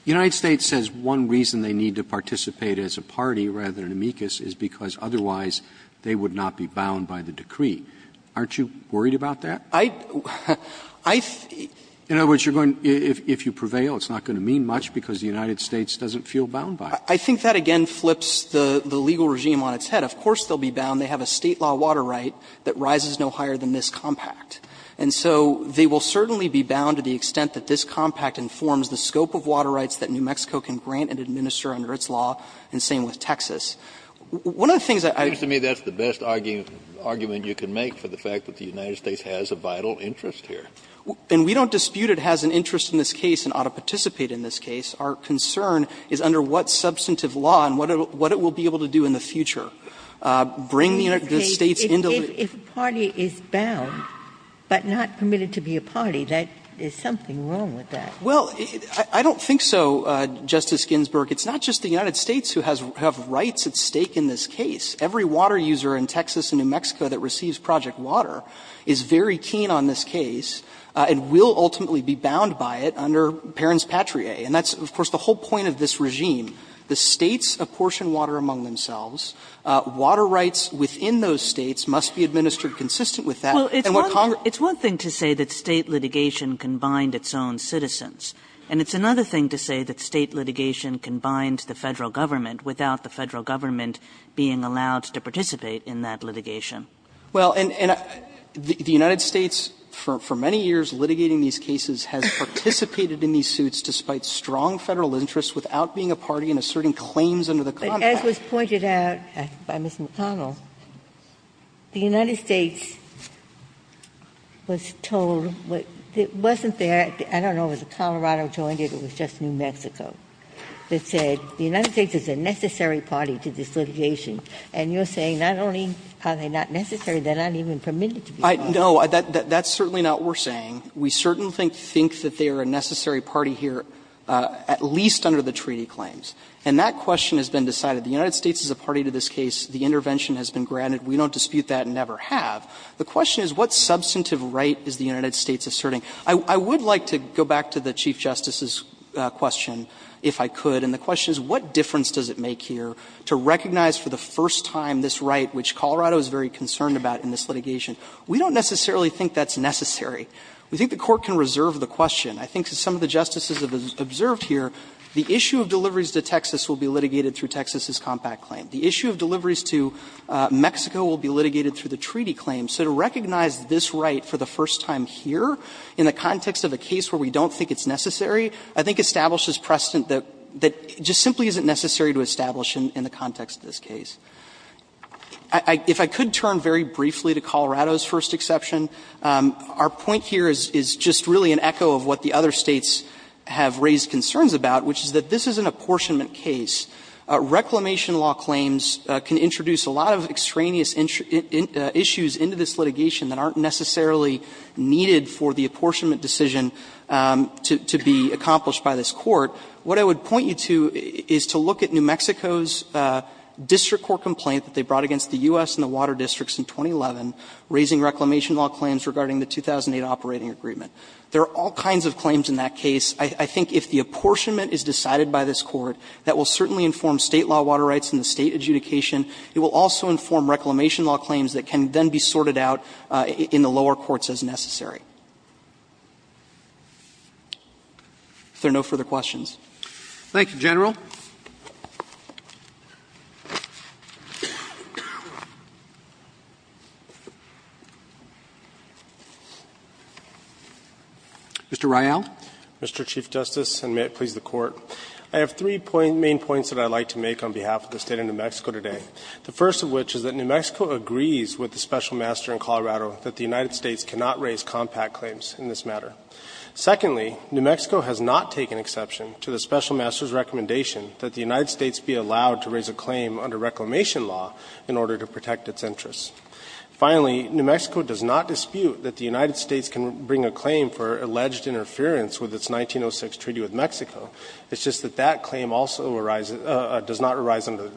United States says one reason they need to participate as a party rather than amicus is because otherwise they would not be bound by the decree. Aren't you worried about that? I think. In other words, you're going to be, if you prevail, it's not going to mean much because the United States doesn't feel bound by it. I think that again flips the legal regime on its head. Of course they'll be bound. They have a State law water right that rises no higher than this compact. And so they will certainly be bound to the extent that this compact informs the scope of water rights that New Mexico can grant and administer under its law, and same with Texas. One of the things that I. Kennedy, that's the best argument you can make for the fact that the United States has a vital interest here. And we don't dispute it has an interest in this case and ought to participate in this case. Our concern is under what substantive law and what it will be able to do in the future. Bring the United States into the. If a party is bound, but not permitted to be a party, there's something wrong with that. Well, I don't think so, Justice Ginsburg. It's not just the United States who have rights at stake in this case. Every water user in Texas and New Mexico that receives Project Water is very keen on this case and will ultimately be bound by it under Perrins-Patrier. And that's, of course, the whole point of this regime. The States apportion water among themselves. Water rights within those States must be administered consistent with that. And what Congress. Kagan, it's one thing to say that State litigation can bind its own citizens, and it's another thing to say that State litigation can bind the Federal Government without the Federal Government being allowed to participate in that litigation. Well, and the United States for many years litigating these cases has participated in these suits despite strong Federal interests without being a party and asserting claims under the contract. But as was pointed out by Ms. McConnell, the United States was told that it wasn't there, I don't know, was it Colorado joined it, it was just New Mexico, that said the United States is a necessary party to this litigation. And you're saying not only are they not necessary, they're not even permitted to be a party. No, that's certainly not what we're saying. We certainly think that they are a necessary party here, at least under the treaty claims. And that question has been decided. The United States is a party to this case. The intervention has been granted. We don't dispute that and never have. The question is what substantive right is the United States asserting? I would like to go back to the Chief Justice's question, if I could, and the question is what difference does it make here to recognize for the first time this right, which Colorado is very concerned about in this litigation. We don't necessarily think that's necessary. We think the Court can reserve the question. I think that some of the Justices have observed here the issue of deliveries to Texas will be litigated through Texas's compact claim. The issue of deliveries to Mexico will be litigated through the treaty claim. So to recognize this right for the first time here in the context of a case where we don't think it's necessary, I think establishes precedent that just simply isn't necessary to establish in the context of this case. If I could turn very briefly to Colorado's first exception, our point here is just really an echo of what the other States have raised concerns about, which is that this is an apportionment case. Reclamation law claims can introduce a lot of extraneous issues into this litigation that aren't necessarily needed for the apportionment decision to be accomplished by this Court. What I would point you to is to look at New Mexico's district court complaint that they brought against the U.S. and the water districts in 2011, raising reclamation law claims regarding the 2008 operating agreement. There are all kinds of claims in that case. I think if the apportionment is decided by this Court, that will certainly inform State law water rights and the State adjudication. It will also inform reclamation law claims that can then be sorted out in the lower courts as necessary. If there are no further questions. Roberts. Thank you, General. Mr. Rial. Mr. Chief Justice, and may it please the Court. I have three main points that I would like to make on behalf of the State of New Mexico today. First of all, New Mexico has not taken exception to the Special Master's recommendation that the United States be allowed to raise a claim under reclamation law in order to protect its interests. Finally, New Mexico does not dispute that the United States can bring a claim for alleged interference with its 1906 treaty with Mexico. It's just that that claim also arises or does not arise under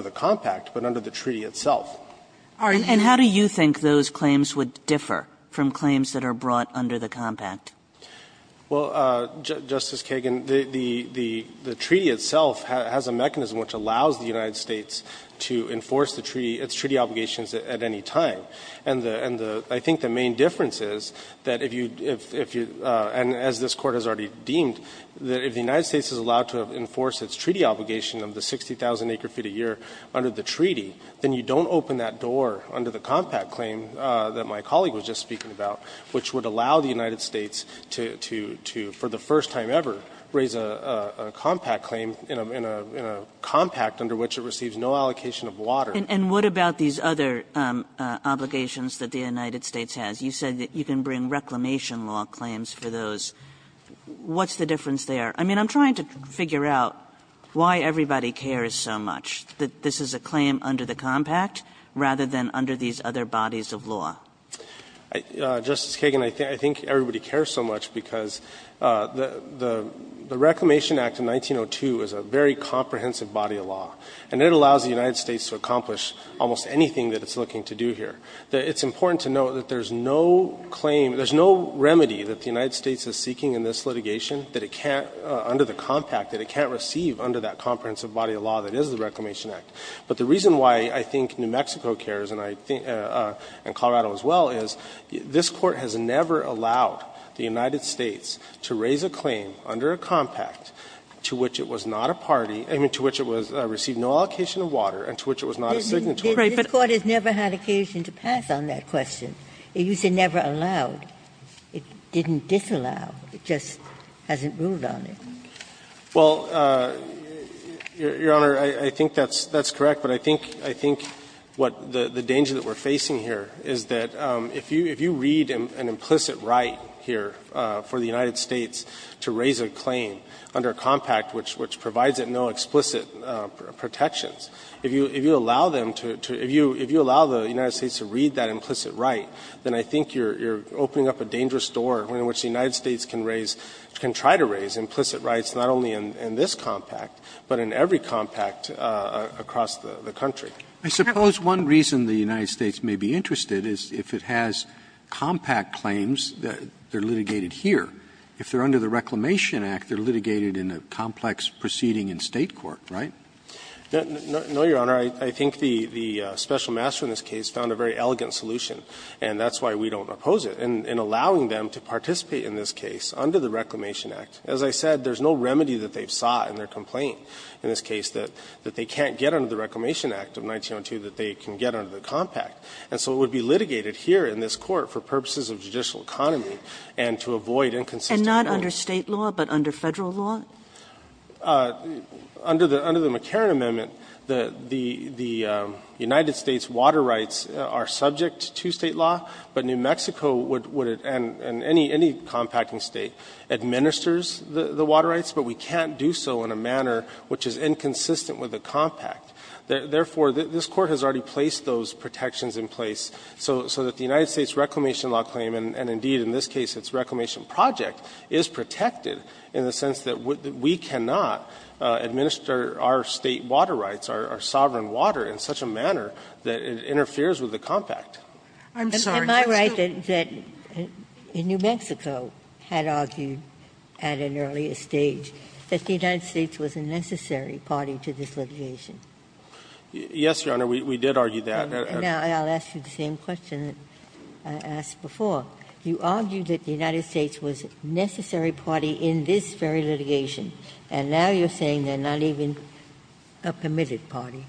the compact, but under the treaty itself. And how do you think those claims would differ from claims that are brought under the compact? Well, Justice Kagan, the treaty itself has a mechanism which allows the United States to enforce the treaty, its treaty obligations at any time. And I think the main difference is that if you, and as this Court has already deemed, that if the United States is allowed to enforce its treaty obligation of the 60,000 acre feet a year under the treaty, then you don't open that door under the compact claim that my colleague was just speaking about, which would allow the United States to, for the first time ever, raise a compact claim in a compact under which it receives no allocation of water. And what about these other obligations that the United States has? You said that you can bring reclamation law claims for those. What's the difference there? I mean, I'm trying to figure out why everybody cares so much that this is a claim under the compact rather than under these other bodies of law. Justice Kagan, I think everybody cares so much because the Reclamation Act of 1902 is a very comprehensive body of law, and it allows the United States to accomplish almost anything that it's looking to do here. It's important to note that there's no claim, there's no remedy that the United States has under the compact that it can't receive under that comprehensive body of law that is the Reclamation Act. But the reason why I think New Mexico cares, and I think Colorado as well, is this Court has never allowed the United States to raise a claim under a compact to which it was not a party, I mean, to which it received no allocation of water, and to which it was not a signatory. Ginsburg. This Court has never had occasion to pass on that question. It used to say never allowed. It didn't disallow. It just hasn't moved on it. Martinez, Jr. Well, Your Honor, I think that's correct, but I think what the danger that we're facing here is that if you read an implicit right here for the United States to raise a claim under a compact which provides it no explicit protections, if you allow them to – if you allow the United States to read that implicit right, then I think you're opening up a dangerous door in which the United States can raise – can try to raise implicit rights not only in this compact, but in every compact across the country. Roberts, I suppose one reason the United States may be interested is if it has compact claims, they're litigated here. If they're under the Reclamation Act, they're litigated in a complex proceeding in State court, right? No, Your Honor, I think the special master in this case found a very elegant solution, and that's why we don't oppose it. In allowing them to participate in this case under the Reclamation Act, as I said, there's no remedy that they've sought in their complaint in this case that they can't get under the Reclamation Act of 1902 that they can get under the compact. And so it would be litigated here in this Court for purposes of judicial economy and to avoid inconsistent courts. And not under State law, but under Federal law? Under the – under the McCarran amendment, the United States water rights are subject to State law, but New Mexico would – and any compacting State – administers the water rights, but we can't do so in a manner which is inconsistent with the compact. Therefore, this Court has already placed those protections in place so that the United States reclamation law claim, and indeed in this case its reclamation project, is protected in the sense that we cannot administer our State water rights, our sovereign water, in such a manner that it interferes with the compact. I'm sorry. Am I right that – that New Mexico had argued at an earlier stage that the United States was a necessary party to this litigation? Yes, Your Honor, we did argue that. And now I'll ask you the same question that I asked before. You argued that the United States was a necessary party in this very litigation, and now you're saying they're not even a permitted party.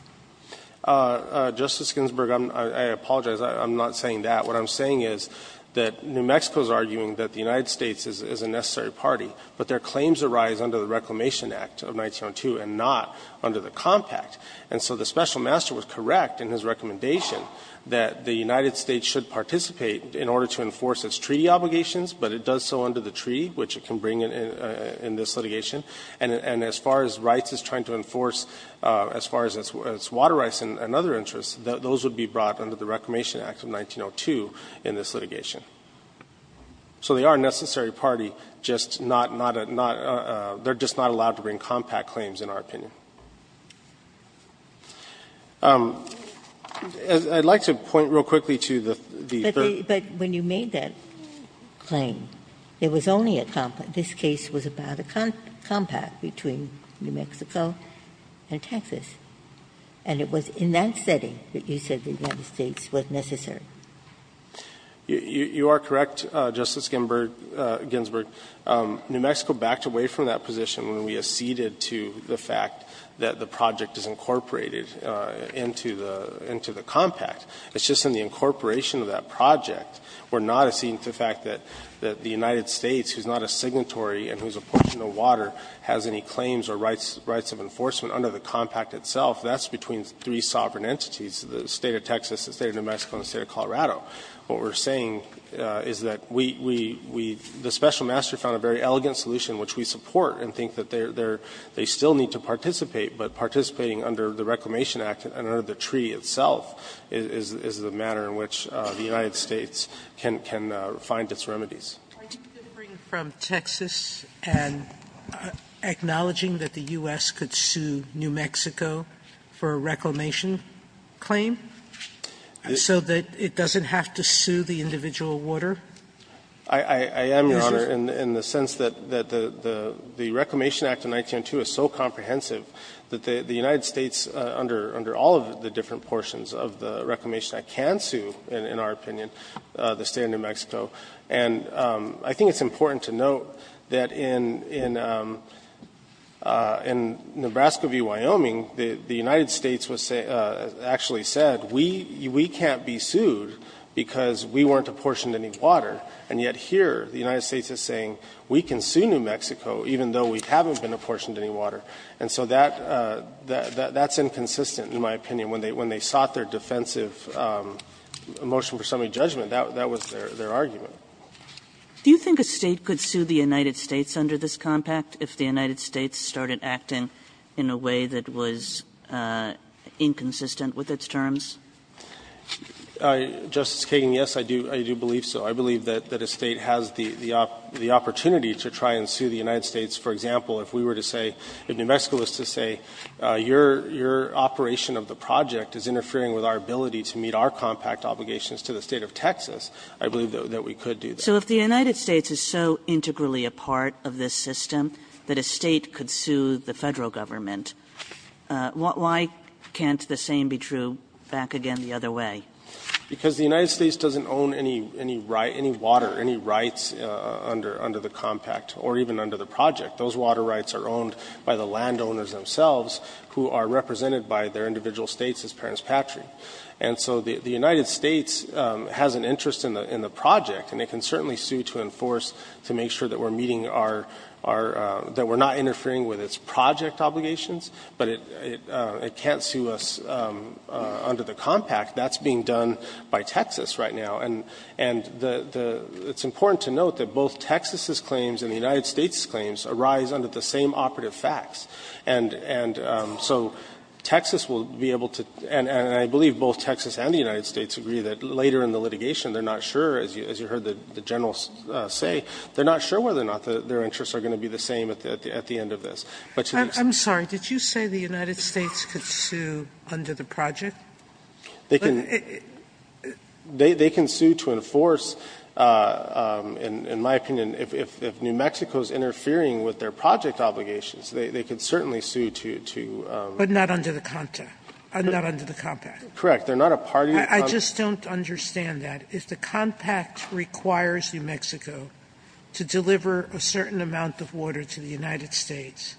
Justice Ginsburg, I apologize. I'm not saying that. What I'm saying is that New Mexico is arguing that the United States is a necessary party, but their claims arise under the Reclamation Act of 1902 and not under the compact. And so the Special Master was correct in his recommendation that the United States should participate in order to enforce its treaty obligations, but it does so under the treaty, which it can bring in this litigation. And as far as rights it's trying to enforce, as far as its water rights and other interests, those would be brought under the Reclamation Act of 1902 in this litigation. So they are a necessary party, just not – they're just not allowed to bring compact claims, in our opinion. I'd like to point real quickly to the third – it was only a compact. This case was about a compact between New Mexico and Texas, and it was in that setting that you said the United States was necessary. You are correct, Justice Ginsburg. New Mexico backed away from that position when we acceded to the fact that the project is incorporated into the compact. It's just in the incorporation of that project. We're not acceding to the fact that the United States, who is not a signatory and who is a portion of water, has any claims or rights of enforcement under the compact itself. That's between three sovereign entities, the State of Texas, the State of New Mexico and the State of Colorado. What we're saying is that we – the Special Master found a very elegant solution which we support and think that they're – they still need to participate, but participating under the Reclamation Act and under the treaty itself is the manner in which the United States can find its remedies. Sotomayor's Are you differing from Texas and acknowledging that the U.S. could sue New Mexico for a reclamation claim, so that it doesn't have to sue the individual water? I am, Your Honor, in the sense that the Reclamation Act of 1902 is so comprehensive that the United States, under all of the different portions of the Reclamation Act, can sue, in our opinion, the State of New Mexico. And I think it's important to note that in Nebraska v. Wyoming, the United States was actually said, we can't be sued because we weren't apportioned any water. And yet here, the United States is saying we can sue New Mexico even though we haven't been apportioned any water. And so that's inconsistent, in my opinion. When they sought their defensive motion for summary judgment, that was their argument. Do you think a State could sue the United States under this compact if the United States started acting in a way that was inconsistent with its terms? Justice Kagan, yes, I do believe so. I believe that a State has the opportunity to try and sue the United States. For example, if we were to say, if New Mexico was to say, your operation of the project is interfering with our ability to meet our compact obligations to the State of Texas, I believe that we could do that. So if the United States is so integrally a part of this system that a State could sue the Federal Government, why can't the same be true back again the other way? Because the United States doesn't own any right, any water, any rights under the compact or even under the project. Those water rights are owned by the landowners themselves who are represented by their individual States as parents' patron. And so the United States has an interest in the project, and it can certainly sue to enforce to make sure that we're meeting our – that we're not interfering with its project obligations, but it can't sue us under the compact. That's being done by Texas right now. And the – it's important to note that both Texas' claims and the United States' claims arise under the same operative facts. And so Texas will be able to – and I believe both Texas and the United States agree that later in the litigation, they're not sure, as you heard the General say, they're not sure whether or not their interests are going to be the same at the end of this. But to the extent that the United States can sue under the project, they can sue under the compact. They can sue to enforce, in my opinion, if New Mexico is interfering with their project obligations, they can certainly sue to – Sotomayor, but not under the compact. Correct. They're not a party to the compact. I just don't understand that. If the compact requires New Mexico to deliver a certain amount of water to the United States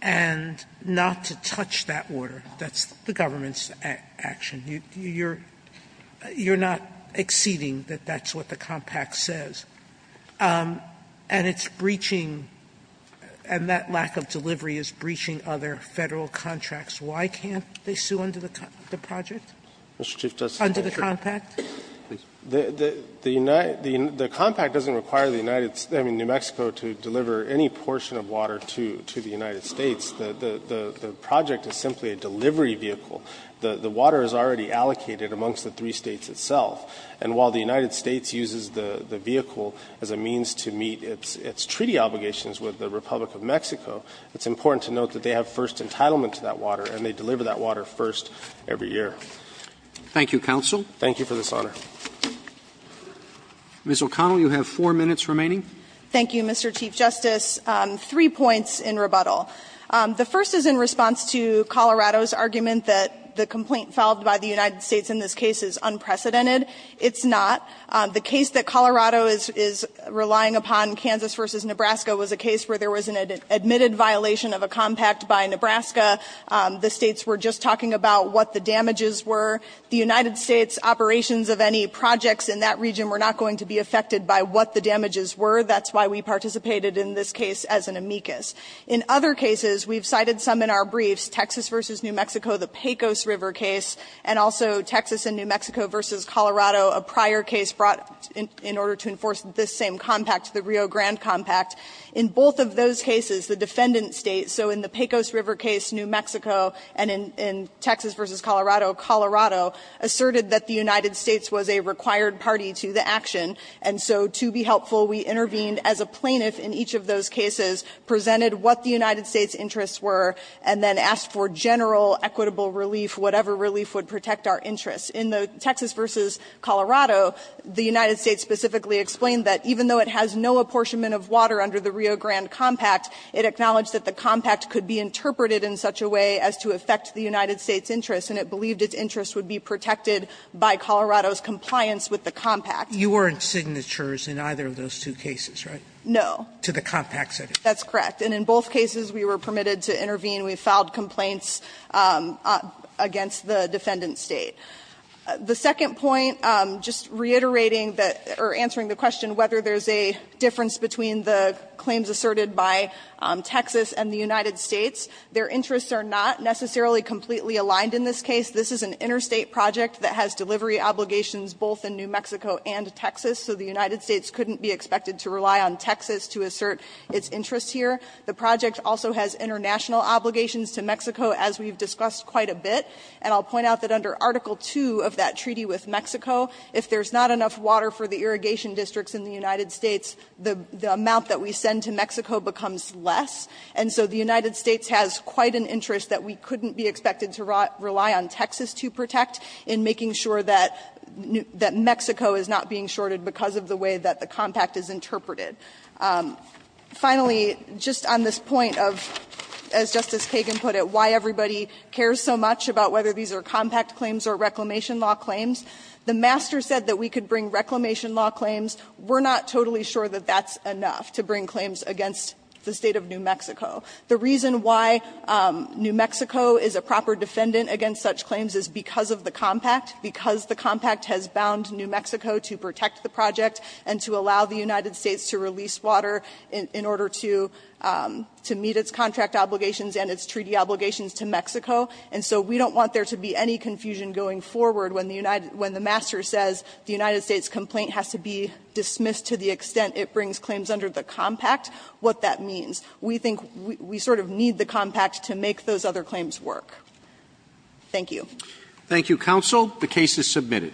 and not to touch that water, that's the government's action. You're not exceeding that that's what the compact says. And it's breaching – and that lack of delivery is breaching other Federal contracts. Why can't they sue under the project? Mr. Chief Justice, I'm not sure. Under the compact? The compact doesn't require the United – I mean, New Mexico to deliver any portion of water to the United States. The project is simply a delivery vehicle. The water is already allocated amongst the three States itself. And while the United States uses the vehicle as a means to meet its treaty obligations with the Republic of Mexico, it's important to note that they have first entitlement to that water and they deliver that water first every year. Thank you, counsel. Thank you for this honor. Ms. O'Connell, you have four minutes remaining. Thank you, Mr. Chief Justice. Three points in rebuttal. The first is in response to Colorado's argument that the complaint filed by the United States in this case is unprecedented. It's not. The case that Colorado is relying upon, Kansas v. Nebraska, was a case where there was an admitted violation of a compact by Nebraska. The States were just talking about what the damages were. The United States operations of any projects in that region were not going to be affected by what the damages were. That's why we participated in this case as an amicus. In other cases, we've cited some in our briefs, Texas v. New Mexico, the Pecos River case, and also Texas and New Mexico v. Colorado, a prior case brought in order to enforce this same compact, the Rio Grande compact. In both of those cases, the defendant states, so in the Pecos River case, New Mexico, and in Texas v. Colorado, Colorado, asserted that the United States was a required party to the action, and so to be helpful, we intervened as a plaintiff in each of those two cases, presented what the United States' interests were, and then asked for general equitable relief, whatever relief would protect our interests. In the Texas v. Colorado, the United States specifically explained that even though it has no apportionment of water under the Rio Grande compact, it acknowledged that the compact could be interpreted in such a way as to affect the United States' interests, and it believed its interests would be protected by Colorado's compliance with the compact. Sotomayor You weren't signatures in either of those two cases, right? O'Connell No. Sotomayor To the compact setting. O'Connell That's correct. And in both cases, we were permitted to intervene. We filed complaints against the defendant State. The second point, just reiterating that, or answering the question whether there's a difference between the claims asserted by Texas and the United States, their interests are not necessarily completely aligned in this case. This is an interstate project that has delivery obligations both in New Mexico and Texas, so the United States couldn't be expected to rely on Texas to assert its interests here. The project also has international obligations to Mexico, as we've discussed quite a bit. And I'll point out that under Article 2 of that treaty with Mexico, if there's not enough water for the irrigation districts in the United States, the amount that we send to Mexico becomes less. And so the United States has quite an interest that we couldn't be expected to rely on Texas to protect in making sure that Mexico is not being shorted because of the way that the compact is interpreted. Finally, just on this point of, as Justice Kagan put it, why everybody cares so much about whether these are compact claims or reclamation law claims, the master said that we could bring reclamation law claims. We're not totally sure that that's enough to bring claims against the State of New Mexico. The reason why New Mexico is a proper defendant against such claims is because of the compact, because the compact has bound New Mexico to protect the project and to allow the United States to release water in order to meet its contract obligations and its treaty obligations to Mexico. And so we don't want there to be any confusion going forward when the master says the United States complaint has to be dismissed to the extent it brings claims under the compact, what that means. We think we sort of need the compact to make those other claims work. Roberts.